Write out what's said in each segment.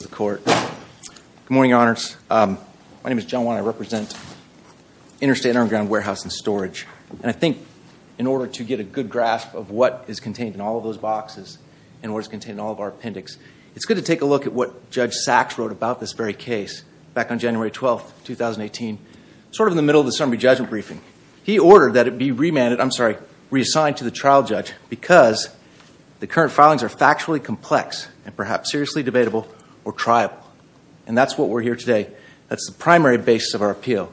Good morning, Your Honors. My name is John Wan. I represent Interstate Underground Warehouse and Storage. And I think in order to get a good grasp of what is contained in all of those boxes and what is contained in all of our appendix, it's good to take a look at what Judge Sachs wrote about this very case back on January 12, 2018. Sort of in the middle of the summary judgment briefing, he ordered that it be remanded, I'm sorry, reassigned to the trial judge because the current filings are factually complex and perhaps seriously debatable or triable. And that's what we're here today. That's the primary basis of our appeal.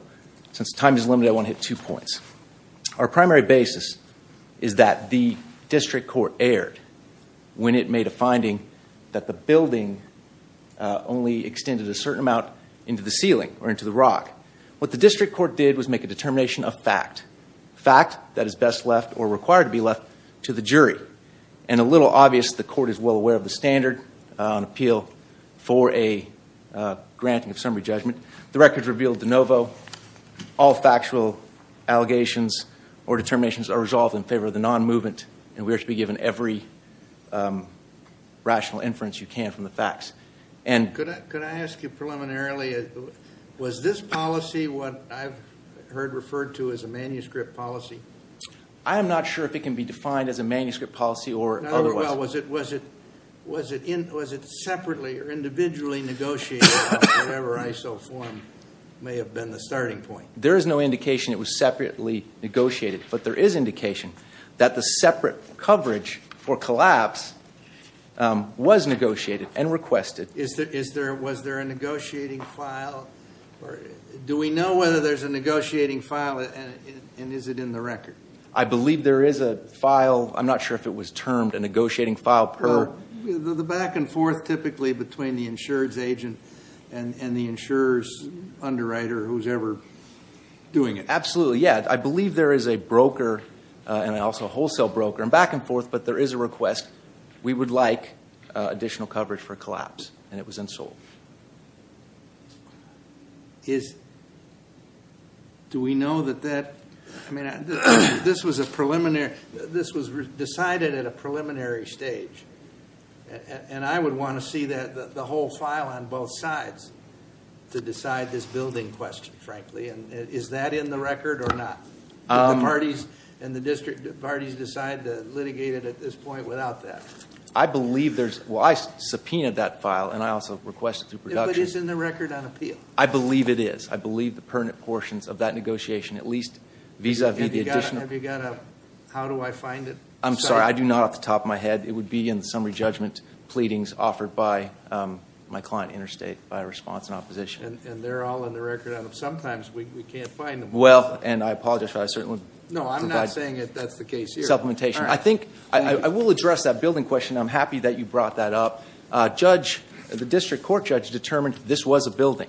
Since time is limited, I want to hit two points. Our primary basis is that the district court erred when it made a finding that the building only extended a certain amount into the ceiling or into the rock. What the district court did was make a determination of fact. Fact that is best left or required to be left to the jury. And a little obvious, the court is well aware of the standard on appeal for a granting of summary judgment. The record revealed de novo, all factual allegations or determinations are resolved in favor of the non-movement and we are to be given every rational inference you can from the facts. Could I ask you preliminarily, was this policy what I've heard referred to as a manuscript policy? I am not sure if it can be defined as a manuscript policy or otherwise. Was it separately or individually negotiated or whatever ISO form may have been the starting point? There is no indication it was separately negotiated. But there is indication that the separate coverage for collapse was negotiated and requested. Was there a negotiating file? Do we know whether there's a negotiating file and is it in the record? I believe there is a file. I'm not sure if it was termed a negotiating file per. The back and forth typically between the insurance agent and the insurer's underwriter who's ever doing it. Absolutely, yeah. I believe there is a broker and also a wholesale broker and back and forth. But there is a request. We would like additional coverage for collapse. And it was in Seoul. Do we know that that, I mean, this was a preliminary, this was decided at a preliminary stage. And I would want to see the whole file on both sides to decide this building question, frankly. And is that in the record or not? Did the parties and the district parties decide to litigate it at this point without that? I believe there's, well, I subpoenaed that file and I also requested through production. But it's in the record on appeal. I believe it is. I believe the pertinent portions of that negotiation, at least vis-a-vis the additional. Have you got a, how do I find it? I'm sorry, I do not off the top of my head. It would be in the summary judgment pleadings offered by my client, Interstate, by response and opposition. And they're all in the record. Sometimes we can't find them. Well, and I apologize for that. No, I'm not saying that that's the case here. Supplementation. I think, I will address that building question. I'm happy that you brought that up. Judge, the district court judge determined this was a building.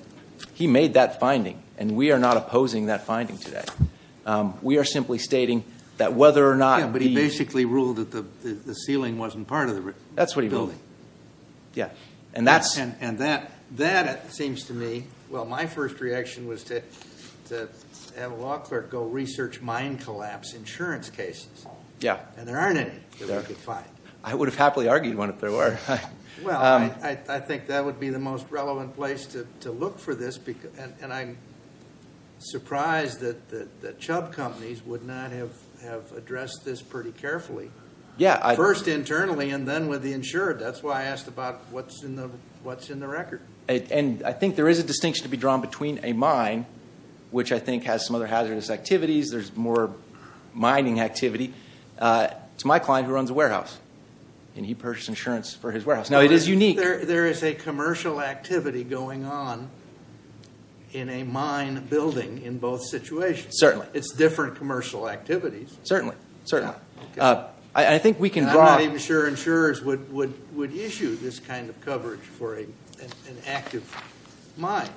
He made that finding. And we are not opposing that finding today. We are simply stating that whether or not. Yeah, but he basically ruled that the ceiling wasn't part of the building. That's what he ruled. Yeah. And that seems to me, well, my first reaction was to have a law clerk go research mine collapse insurance cases. Yeah. And there aren't any that we could find. I would have happily argued one if there were. Well, I think that would be the most relevant place to look for this. And I'm surprised that Chubb Companies would not have addressed this pretty carefully. Yeah. First internally and then with the insured. That's why I asked about what's in the record. And I think there is a distinction to be drawn between a mine, which I think has some other hazardous activities. There's more mining activity. It's my client who runs a warehouse. And he purchased insurance for his warehouse. Now, it is unique. There is a commercial activity going on in a mine building in both situations. Certainly. It's different commercial activities. Certainly. Certainly. I think we can draw. I'm not even sure insurers would issue this kind of coverage for an active mine.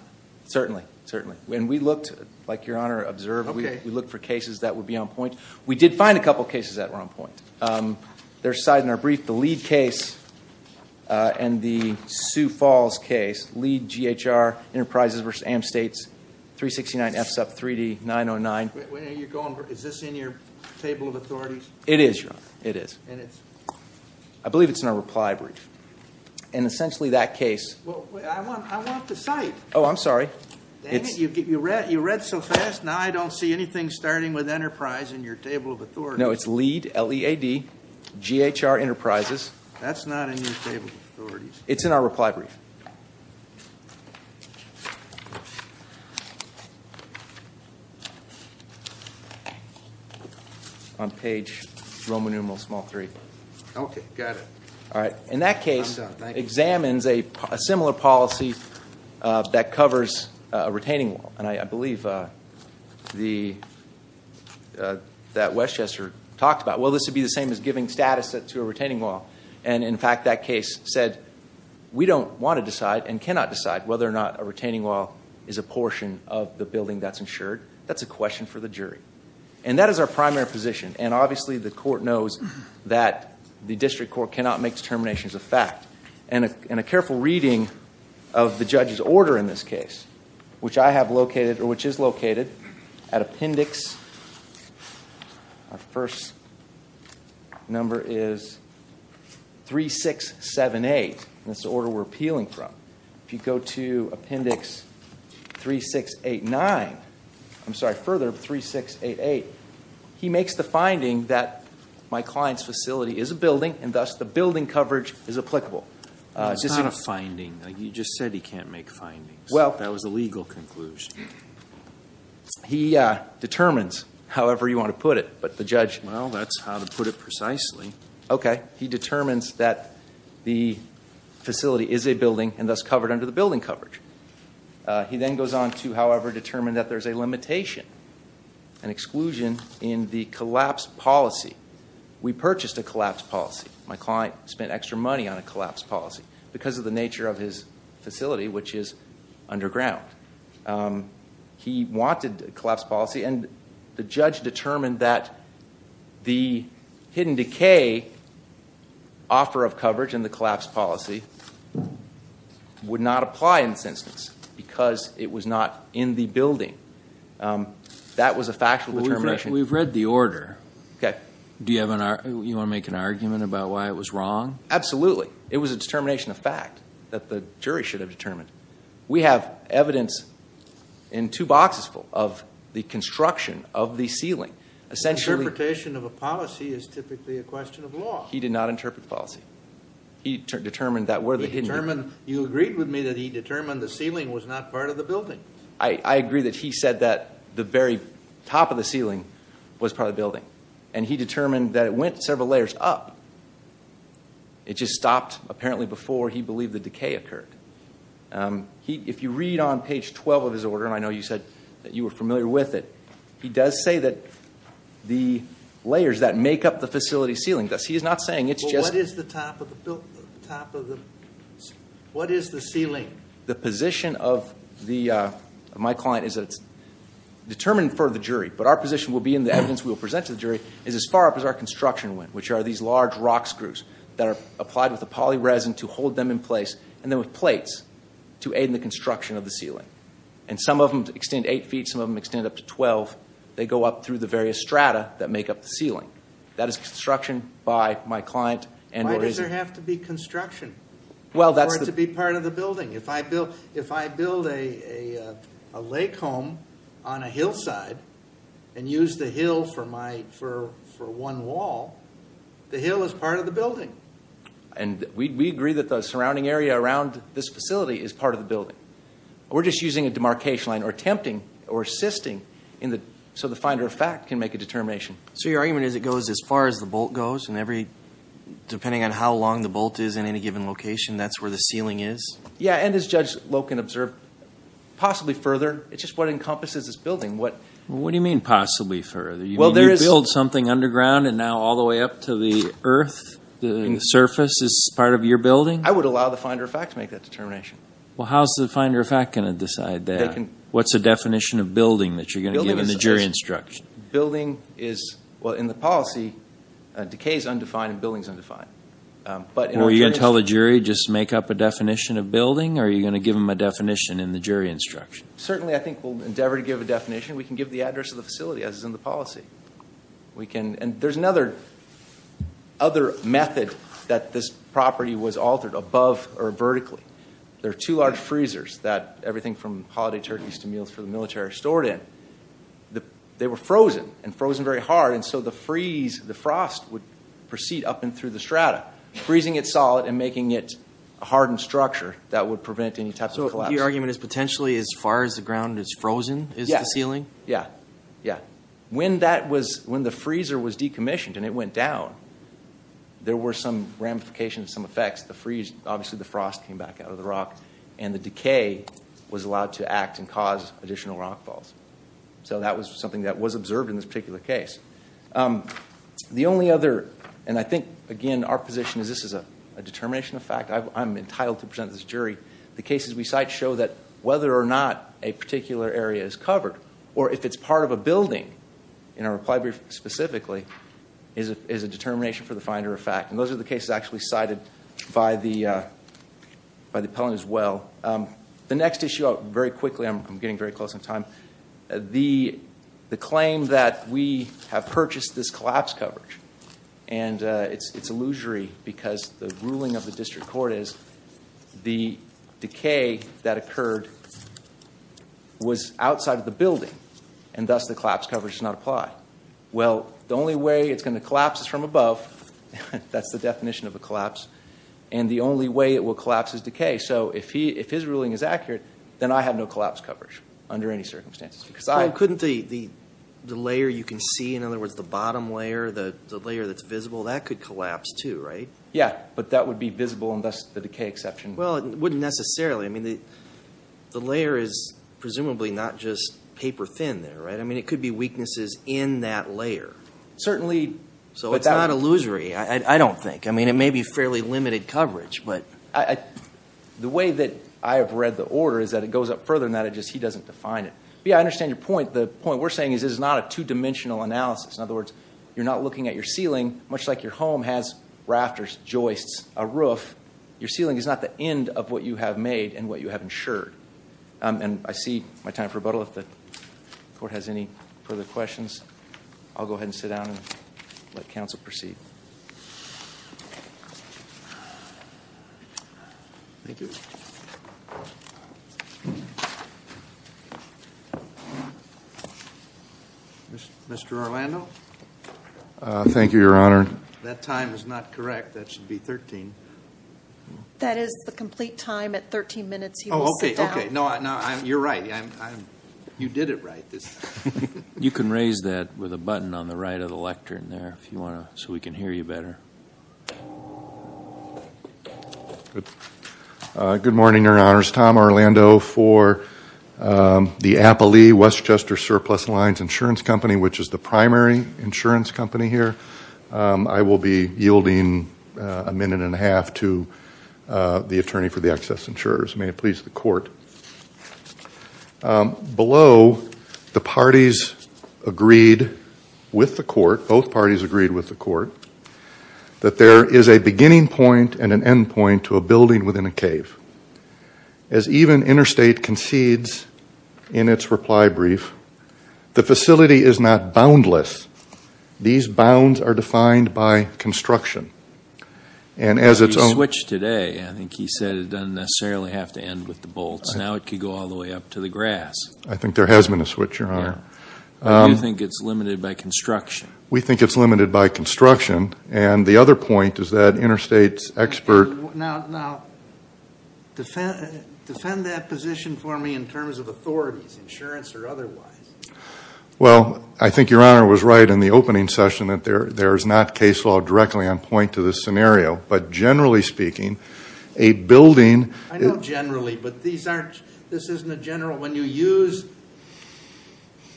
Certainly. Certainly. And we looked, like Your Honor observed, we looked for cases that would be on point. We did find a couple of cases that were on point. There's a side in our brief, the LEED case and the Sioux Falls case. LEED, GHR, Enterprises v. AmStates, 369 FSUP, 3D, 909. Is this in your table of authorities? It is, Your Honor. It is. And it's? I believe it's in our reply brief. And essentially that case. Well, I want the site. Oh, I'm sorry. You read so fast. Now I don't see anything starting with Enterprise in your table of authorities. No, it's LEED, L-E-A-D, GHR, Enterprises. That's not in your table of authorities. It's in our reply brief. On page Roman numeral small three. Okay. Got it. All right. In that case, examines a similar policy that covers a retaining wall. And I believe that Westchester talked about, well, this would be the same as giving status to a retaining wall. And, in fact, that case said, we don't want to decide and cannot decide whether or not a retaining wall is a portion of the building that's insured. That's a question for the jury. And that is our primary position. And, obviously, the court knows that the district court cannot make determinations of fact. And a careful reading of the judge's order in this case, which I have located or which is located at appendix. Our first number is 3678. That's the order we're appealing from. If you go to appendix 3689. I'm sorry. Further 3688. He makes the finding that my client's facility is a building. And, thus, the building coverage is applicable. It's not a finding. You just said he can't make findings. Well. That was a legal conclusion. He determines however you want to put it. But the judge. Well, that's how to put it precisely. Okay. He determines that the facility is a building and, thus, covered under the building coverage. He then goes on to, however, determine that there's a limitation, an exclusion in the collapse policy. We purchased a collapse policy. My client spent extra money on a collapse policy because of the nature of his facility, which is underground. He wanted a collapse policy. And the judge determined that the hidden decay offer of coverage in the collapse policy would not apply in this instance because it was not in the building. That was a factual determination. We've read the order. Okay. Do you want to make an argument about why it was wrong? Absolutely. It was a determination of fact that the jury should have determined. We have evidence in two boxes full of the construction of the ceiling. Essentially. Interpretation of a policy is typically a question of law. He did not interpret the policy. He determined that where the hidden. He determined. You agreed with me that he determined the ceiling was not part of the building. I agree that he said that the very top of the ceiling was part of the building. And he determined that it went several layers up. It just stopped, apparently, before he believed the decay occurred. If you read on page 12 of his order, and I know you said that you were familiar with it, he does say that the layers that make up the facility ceiling. He is not saying it's just. What is the top of the ceiling? The position of my client is that it's determined for the jury. But our position will be in the evidence. We will present to the jury is as far up as our construction went, which are these large rock screws that are applied with a poly resin to hold them in place. And then with plates to aid in the construction of the ceiling. And some of them extend eight feet. Some of them extend up to 12. They go up through the various strata that make up the ceiling. That is construction by my client. And why does there have to be construction? Well, that's to be part of the building. If I build a lake home on a hillside and use the hill for one wall, the hill is part of the building. And we agree that the surrounding area around this facility is part of the building. We're just using a demarcation line or attempting or assisting so the finder of fact can make a determination. So your argument is it goes as far as the bolt goes, and depending on how long the bolt is in any given location, that's where the ceiling is? Yeah, and as Judge Loken observed, possibly further. It's just what encompasses this building. What do you mean possibly further? You mean you build something underground and now all the way up to the earth, the surface, is part of your building? I would allow the finder of fact to make that determination. Well, how is the finder of fact going to decide that? What's the definition of building that you're going to give in the jury instruction? Building is, well, in the policy, decay is undefined and building is undefined. Are you going to tell the jury just make up a definition of building, or are you going to give them a definition in the jury instruction? Certainly, I think we'll endeavor to give a definition. We can give the address of the facility as is in the policy. And there's another method that this property was altered above or vertically. There are two large freezers that everything from holiday turkeys to meals for the military are stored in. They were frozen, and frozen very hard, and so the freeze, the frost would proceed up and through the strata, freezing it solid and making it a hardened structure that would prevent any type of collapse. So your argument is potentially as far as the ground is frozen is the ceiling? Yes. When the freezer was decommissioned and it went down, there were some ramifications, some effects. The freeze, obviously the frost came back out of the rock, and the decay was allowed to act and cause additional rockfalls. So that was something that was observed in this particular case. The only other, and I think, again, our position is this is a determination of fact. I'm entitled to present this to the jury. The cases we cite show that whether or not a particular area is covered or if it's part of a building, in our reply brief specifically, is a determination for the finder of fact. And those are the cases actually cited by the appellant as well. The next issue, very quickly, I'm getting very close on time. The claim that we have purchased this collapse coverage, and it's illusory because the ruling of the district court is the decay that occurred was outside of the building, and thus the collapse coverage does not apply. Why? Well, the only way it's going to collapse is from above. That's the definition of a collapse. And the only way it will collapse is decay. So if his ruling is accurate, then I have no collapse coverage under any circumstances. Couldn't the layer you can see, in other words, the bottom layer, the layer that's visible, that could collapse too, right? Yeah, but that would be visible and thus the decay exception. Well, it wouldn't necessarily. I mean, the layer is presumably not just paper thin there, right? I mean, it could be weaknesses in that layer. Certainly. So it's not illusory, I don't think. I mean, it may be fairly limited coverage. The way that I have read the order is that it goes up further than that. It's just he doesn't define it. Yeah, I understand your point. The point we're saying is this is not a two-dimensional analysis. In other words, you're not looking at your ceiling, much like your home has rafters, joists, a roof. Your ceiling is not the end of what you have made and what you have insured. And I see my time for rebuttal. If the court has any further questions, I'll go ahead and sit down and let counsel proceed. Mr. Orlando? Thank you, Your Honor. That time is not correct. That should be 13. That is the complete time at 13 minutes. Oh, okay, okay. No, you're right. You did it right this time. You can raise that with a button on the right of the lectern there so we can hear you better. Good morning, Your Honors. Tom Orlando for the Appalee-Westchester Surplus Lines Insurance Company, which is the primary insurance company here. I will be yielding a minute and a half to the attorney for the excess insurers. May it please the court. Below, the parties agreed with the court, both parties agreed with the court, that there is a beginning point and an end point to a building within a cave. As even Interstate concedes in its reply brief, the facility is not boundless. These bounds are defined by construction. He switched today. I think he said it doesn't necessarily have to end with the bolts. Now it could go all the way up to the grass. I think there has been a switch, Your Honor. I do think it's limited by construction. We think it's limited by construction. And the other point is that Interstate's expert Now, defend that position for me in terms of authorities, insurance or otherwise. Well, I think Your Honor was right in the opening session that there is not case law directly on point to this scenario. But generally speaking, a building I know generally, but this isn't a general. When you use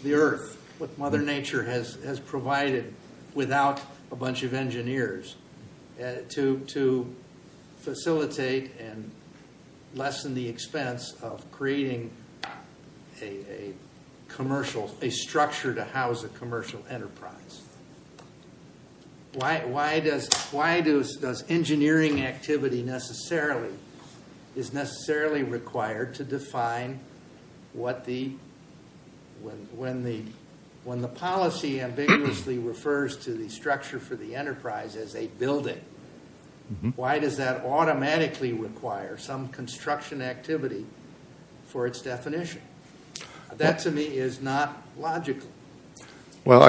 the earth, what Mother Nature has provided without a bunch of engineers to facilitate and lessen the expense of creating a commercial, a structure to house a commercial enterprise. Why does engineering activity necessarily is necessarily required to define what the when the policy ambiguously refers to the structure for the enterprise as a building. Why does that automatically require some construction activity for its definition? That to me is not logical. Well,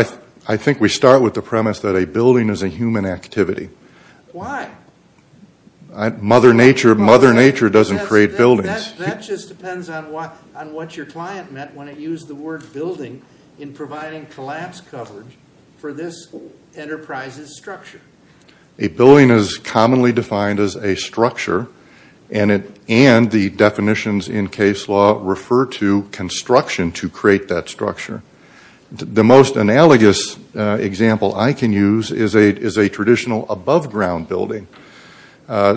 I think we start with the premise that a building is a human activity. Why? Mother Nature doesn't create buildings. That just depends on what your client meant when it used the word building in providing collapse coverage for this enterprise's structure. A building is commonly defined as a structure The most analogous example I can use is a traditional above ground building.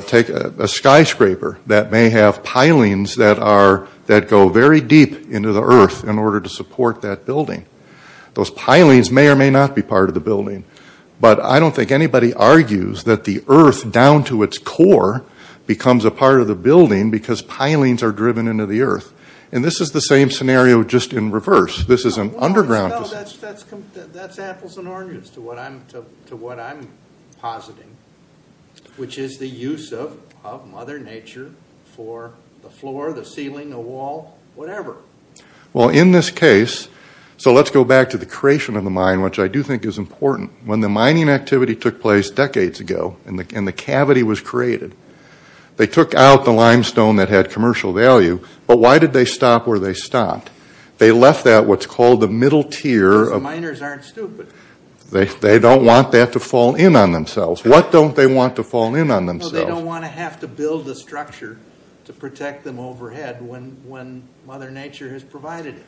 Take a skyscraper that may have pilings that go very deep into the earth in order to support that building. Those pilings may or may not be part of the building. But I don't think anybody argues that the earth down to its core becomes a part of the building because pilings are driven into the earth. And this is the same scenario just in reverse. This is an underground... No, that's apples and oranges to what I'm positing, which is the use of Mother Nature for the floor, the ceiling, the wall, whatever. Well, in this case, so let's go back to the creation of the mine, which I do think is important. When the mining activity took place decades ago and the cavity was created, they took out the limestone that had commercial value, but why did they stop where they stopped? They left that what's called the middle tier... Because miners aren't stupid. They don't want that to fall in on themselves. What don't they want to fall in on themselves? Well, they don't want to have to build a structure to protect them overhead when Mother Nature has provided it.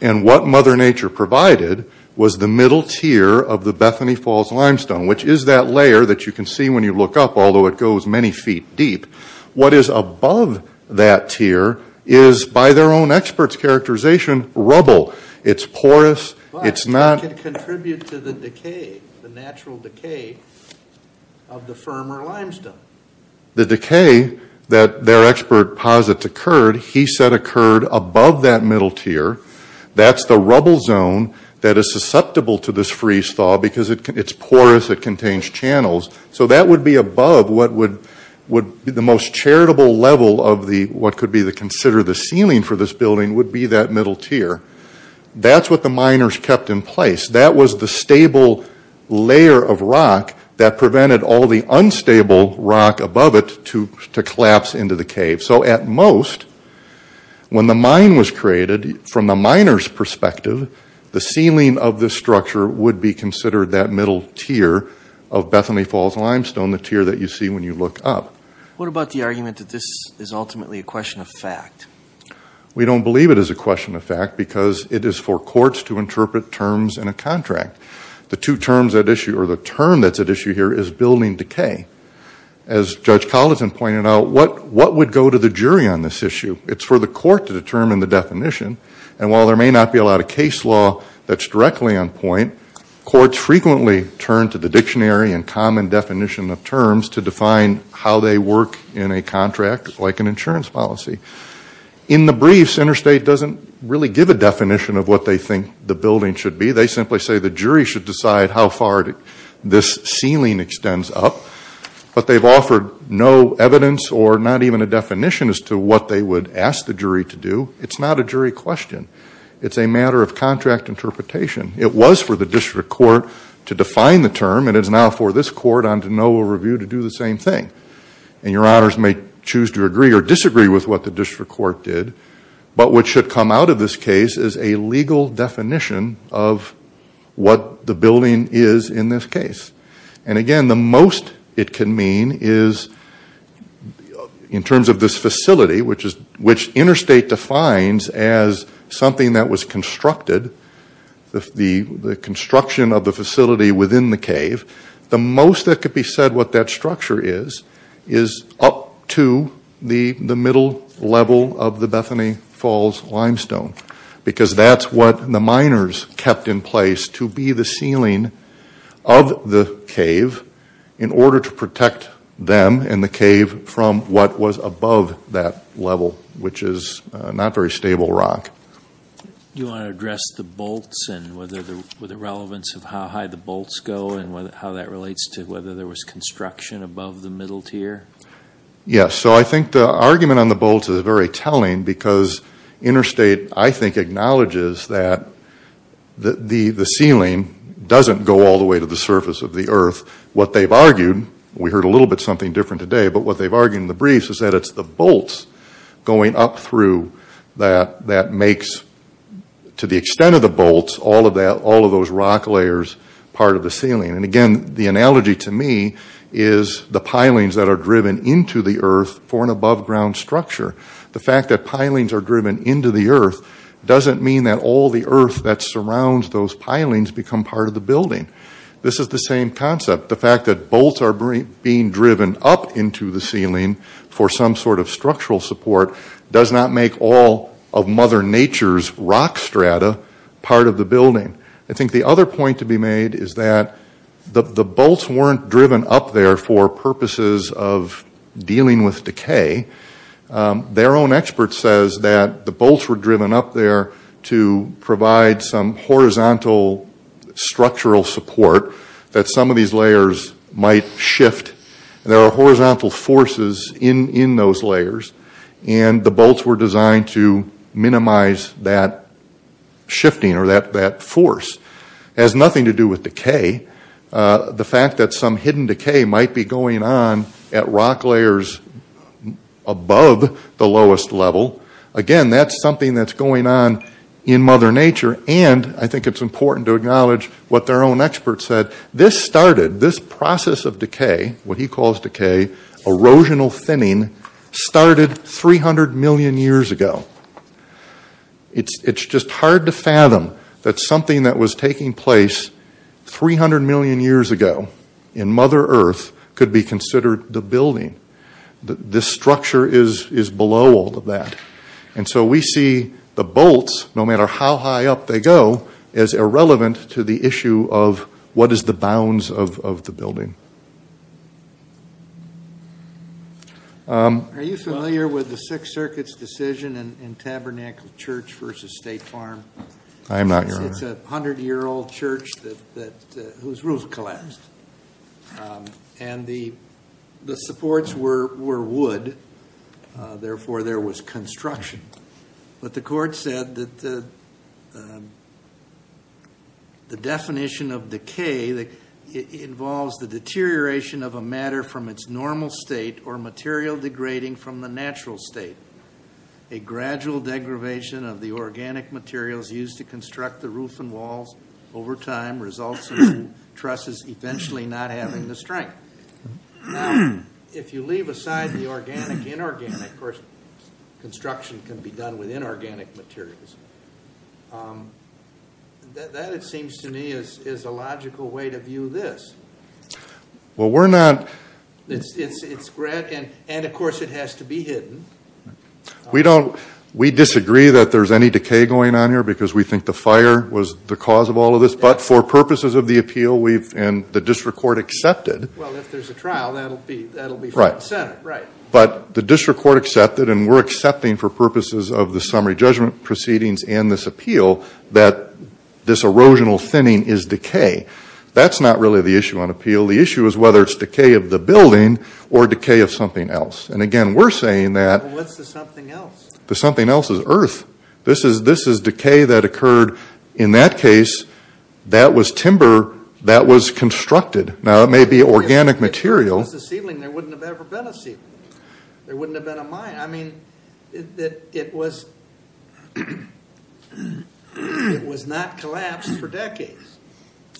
And what Mother Nature provided was the middle tier of the Bethany Falls limestone, which is that layer that you can see when you look up, although it goes many feet deep. What is above that tier is, by their own expert's characterization, rubble. It's porous, it's not... But it can contribute to the decay, the natural decay of the firmer limestone. The decay that their expert posits occurred, he said occurred above that middle tier. That's the rubble zone that is susceptible to this freeze thaw because it's porous, it contains channels. So that would be above what would be the most charitable level of what could be considered the ceiling for this building would be that middle tier. That's what the miners kept in place. That was the stable layer of rock that prevented all the unstable rock above it to collapse into the cave. So at most, when the mine was created, from the miners' perspective, the ceiling of this structure would be considered that middle tier of Bethany Falls limestone, the tier that you see when you look up. What about the argument that this is ultimately a question of fact? We don't believe it is a question of fact because it is for courts to interpret terms in a contract. The term that's at issue here is building decay. As Judge Collinson pointed out, what would go to the jury on this issue? It's for the court to determine the definition. And while there may not be a lot of case law that's directly on point, courts frequently turn to the dictionary and common definition of terms to define how they work in a contract like an insurance policy. In the briefs, Interstate doesn't really give a definition of what they think the building should be. They simply say the jury should decide how far this ceiling extends up. But they've offered no evidence or not even a definition as to what they would ask the jury to do. It's not a jury question. It's a matter of contract interpretation. It was for the district court to define the term, and it is now for this court on de novo review to do the same thing. And your honors may choose to agree or disagree with what the district court did, but what should come out of this case is a legal definition of what the building is in this case. And again, the most it can mean is in terms of this facility, which Interstate defines as something that was constructed, the construction of the facility within the cave, the most that could be said what that structure is, is up to the middle level of the Bethany Falls limestone. Because that's what the miners kept in place to be the ceiling of the cave in order to protect them and the cave from what was above that level, which is not very stable rock. Do you want to address the bolts and whether the relevance of how high the bolts go and how that relates to whether there was construction above the middle tier? Yes. So I think the argument on the bolts is very telling because Interstate, I think, acknowledges that the ceiling doesn't go all the way to the surface of the earth. What they've argued, we heard a little bit something different today, but what they've argued in the briefs is that it's the bolts going up through that that makes, to the extent of the bolts, all of those rock layers part of the ceiling. And again, the analogy to me is the pilings that are driven into the earth for an above-ground structure. The fact that pilings are driven into the earth doesn't mean that all the earth that surrounds those pilings become part of the building. This is the same concept. The fact that bolts are being driven up into the ceiling for some sort of structural support does not make all of Mother Nature's rock strata part of the building. I think the other point to be made is that the bolts weren't driven up there for purposes of dealing with decay. Their own expert says that the bolts were driven up there to provide some horizontal structural support that some of these layers might shift. There are horizontal forces in those layers, and the bolts were designed to minimize that shifting or that force. It has nothing to do with decay. The fact that some hidden decay might be going on at rock layers above the lowest level, again, that's something that's going on in Mother Nature, and I think it's important to acknowledge what their own expert said. This started, this process of decay, what he calls decay, erosional thinning, started 300 million years ago. It's just hard to fathom that something that was taking place 300 million years ago in Mother Earth could be considered the building. This structure is below all of that. And so we see the bolts, no matter how high up they go, as irrelevant to the issue of what is the bounds of the building. Are you familiar with the Sixth Circuit's decision in Tabernacle Church versus State Farm? I am not, Your Honor. It's a 100-year-old church whose roof collapsed, and the supports were wood, therefore there was construction. But the court said that the definition of decay involves the deterioration of a matter from its normal state or material degrading from the natural state. A gradual degradation of the organic materials used to construct the roof and walls over time results in trusses eventually not having the strength. Now, if you leave aside the organic, inorganic, of course construction can be done with inorganic materials. That, it seems to me, is a logical way to view this. Well, we're not... It's gradual, and of course it has to be hidden. We disagree that there's any decay going on here because we think the fire was the cause of all of this, but for purposes of the appeal and the district court accepted... Well, if there's a trial, that'll be from the Senate. But the district court accepted, and we're accepting for purposes of the summary judgment proceedings and this appeal that this erosional thinning is decay. That's not really the issue on appeal. The issue is whether it's decay of the building or decay of something else. And again, we're saying that... Well, what's the something else? The something else is earth. This is decay that occurred. In that case, that was timber that was constructed. Now, it may be organic material. If it was a ceiling, there wouldn't have ever been a ceiling. There wouldn't have been a mine. I mean, it was not collapsed for decades,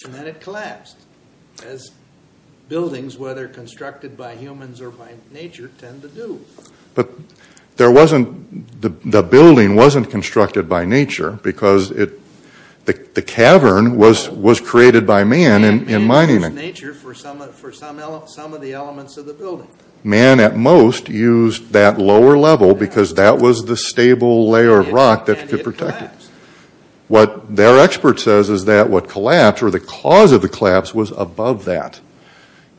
and then it collapsed, as buildings, whether constructed by humans or by nature, tend to do. But the building wasn't constructed by nature because the cavern was created by man in mining. Man used nature for some of the elements of the building. Man, at most, used that lower level because that was the stable layer of rock that could protect it. And it collapsed. What their expert says is that what collapsed, or the cause of the collapse, was above that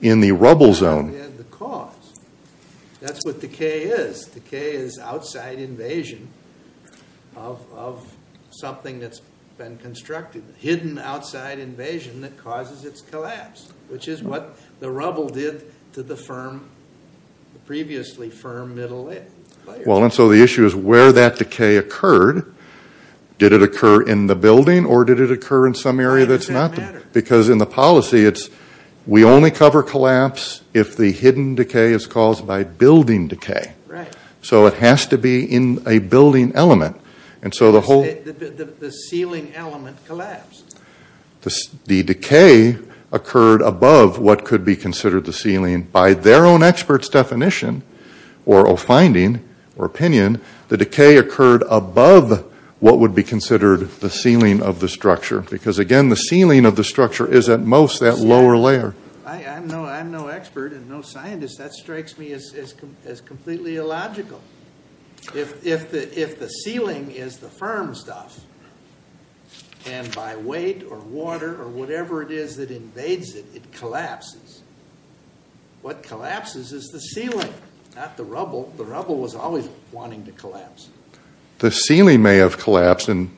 in the rubble zone. That's what decay is. Decay is outside invasion of something that's been constructed. Hidden outside invasion that causes its collapse, which is what the rubble did to the previously firm middle layer. Well, and so the issue is where that decay occurred. Did it occur in the building, or did it occur in some area that's not? Why does that matter? Because in the policy, it's we only cover collapse if the hidden decay is caused by building decay. So it has to be in a building element. And so the whole— The ceiling element collapsed. The decay occurred above what could be considered the ceiling. By their own expert's definition, or finding, or opinion, the decay occurred above what would be considered the ceiling of the structure. Because, again, the ceiling of the structure is, at most, that lower layer. I'm no expert and no scientist. That strikes me as completely illogical. If the ceiling is the firm stuff, and by weight or water or whatever it is that invades it, it collapses. What collapses is the ceiling, not the rubble. The rubble was always wanting to collapse. The ceiling may have collapsed and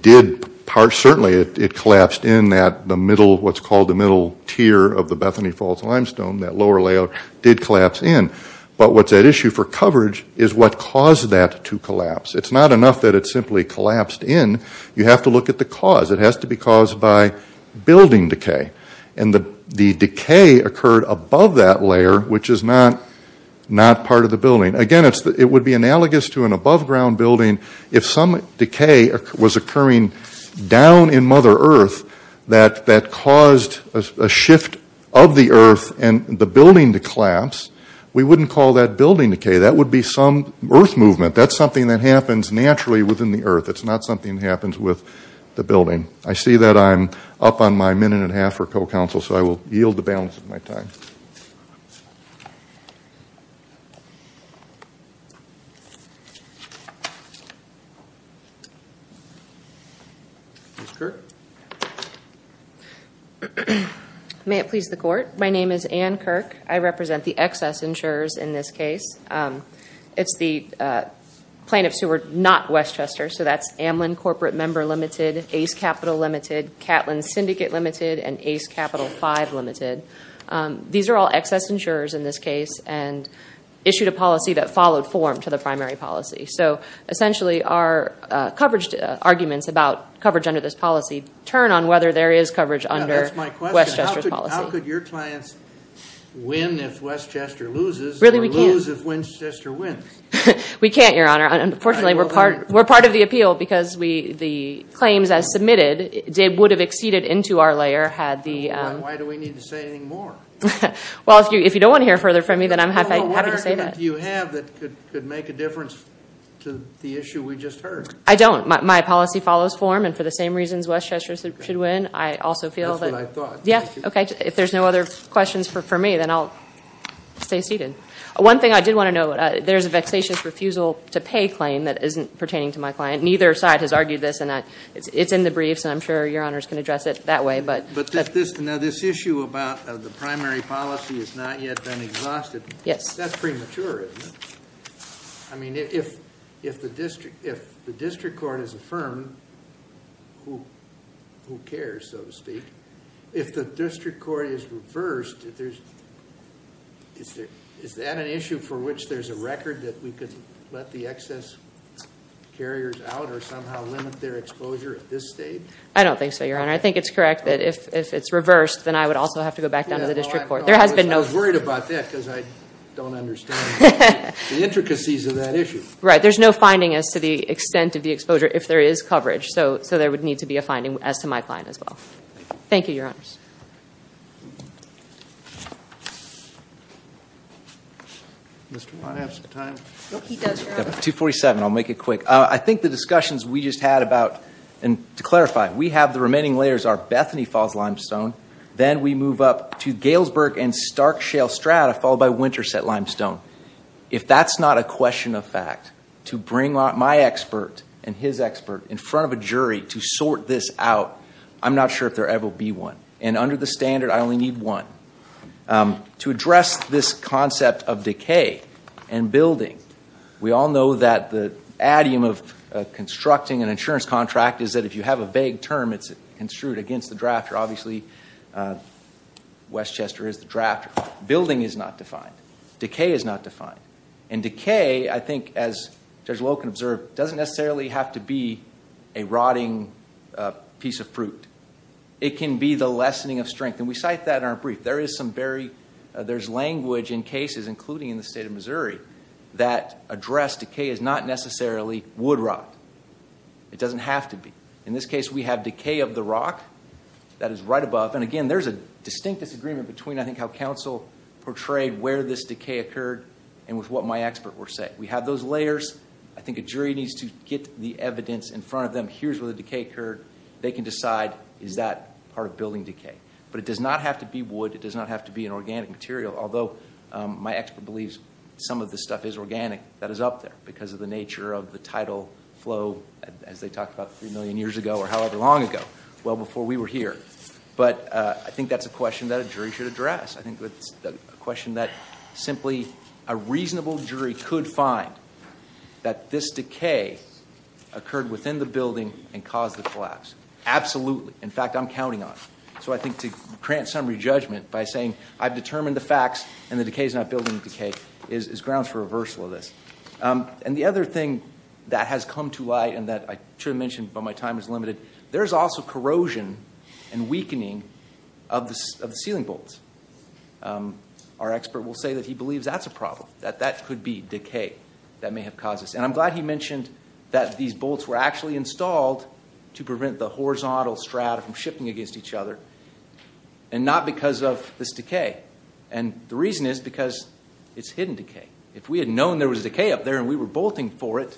did. Certainly, it collapsed in the middle, what's called the middle tier of the Bethany Falls limestone, that lower layer, did collapse in. But what's at issue for coverage is what caused that to collapse. It's not enough that it simply collapsed in. You have to look at the cause. It has to be caused by building decay. And the decay occurred above that layer, which is not part of the building. Again, it would be analogous to an above-ground building. If some decay was occurring down in Mother Earth that caused a shift of the earth and the building to collapse, we wouldn't call that building decay. That would be some earth movement. That's something that happens naturally within the earth. It's not something that happens with the building. I see that I'm up on my minute and a half for co-counsel, so I will yield the balance of my time. May it please the Court. My name is Ann Kirk. I represent the excess insurers in this case. It's the plaintiffs who are not Westchester. So that's Amlin Corporate Member Limited, Ace Capital Limited, Catlin Syndicate Limited, and Ace Capital Five Limited. These are all excess insurers in this case and issued a policy that followed form to the primary policy. So essentially our coverage arguments about coverage under this policy turn on whether there is coverage under Westchester's policy. How could your clients win if Westchester loses or lose if Westchester wins? We can't, Your Honor. Unfortunately, we're part of the appeal because the claims as submitted would have exceeded into our layer had the- Why do we need to say anything more? Well, if you don't want to hear further from me, then I'm happy to say that. What argument do you have that could make a difference to the issue we just heard? I don't. My policy follows form, and for the same reasons Westchester should win, I also feel that- That's what I thought. Yeah, okay. If there's no other questions for me, then I'll stay seated. One thing I did want to note, there's a vexatious refusal to pay claim that isn't pertaining to my client. Neither side has argued this, and it's in the briefs, and I'm sure Your Honors can address it that way. But this issue about the primary policy has not yet been exhausted. Yes. That's premature, isn't it? I mean, if the district court has affirmed who cares, so to speak, if the district court is reversed, is that an issue for which there's a record that we could let the excess carriers out, or somehow limit their exposure at this stage? I don't think so, Your Honor. I think it's correct that if it's reversed, then I would also have to go back down to the district court. There has been no- I was worried about that, because I don't understand the intricacies of that issue. Right. There's no finding as to the extent of the exposure, if there is coverage. So there would need to be a finding as to my client as well. Thank you, Your Honors. Mr. Watt, do you have some time? No, he does, Your Honor. 247. I'll make it quick. I think the discussions we just had about- and to clarify, we have the remaining layers are Bethany Falls Limestone, then we move up to Galesburg and Stark Shale Strata, followed by Winterset Limestone. If that's not a question of fact, to bring my expert and his expert in front of a jury to sort this out, I'm not sure if there will ever be one. And under the standard, I only need one. To address this concept of decay and building, we all know that the idiom of constructing an insurance contract is that if you have a vague term, it's construed against the drafter. Obviously, Westchester is the drafter. Building is not defined. Decay is not defined. And decay, I think, as Judge Loken observed, doesn't necessarily have to be a rotting piece of fruit. It can be the lessening of strength. And we cite that in our brief. There's language in cases, including in the state of Missouri, that address decay as not necessarily wood rot. It doesn't have to be. In this case, we have decay of the rock. That is right above. And again, there's a distinct disagreement between, I think, how counsel portrayed where this decay occurred and with what my expert were saying. We have those layers. I think a jury needs to get the evidence in front of them. Here's where the decay occurred. They can decide, is that part of building decay? But it does not have to be wood. It does not have to be an organic material, although my expert believes some of this stuff is organic that is up there because of the nature of the tidal flow, as they talked about 3 million years ago or however long ago, well before we were here. But I think that's a question that a jury should address. I think that's a question that simply a reasonable jury could find, that this decay occurred within the building and caused the collapse. Absolutely. In fact, I'm counting on it. So I think to grant some re-judgment by saying, I've determined the facts and the decay is not building decay, is grounds for reversal of this. And the other thing that has come to light and that I should have mentioned but my time is limited, there's also corrosion and weakening of the ceiling bolts. Our expert will say that he believes that's a problem, that that could be decay that may have caused this. And I'm glad he mentioned that these bolts were actually installed to prevent the horizontal strata from shifting against each other, and not because of this decay. And the reason is because it's hidden decay. If we had known there was decay up there and we were bolting for it,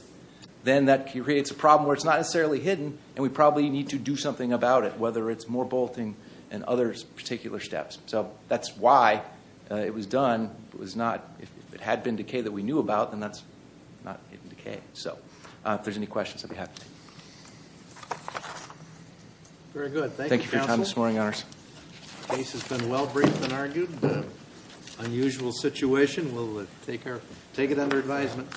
then that creates a problem where it's not necessarily hidden, and we probably need to do something about it, whether it's more bolting and other particular steps. So that's why it was done. If it had been decay that we knew about, then that's not hidden decay. So if there's any questions, I'd be happy to take them. Very good. Thank you, Counsel. Thank you for your time this morning, Your Honors. The case has been well briefed and argued. Unusual situation. We'll take it under advisement.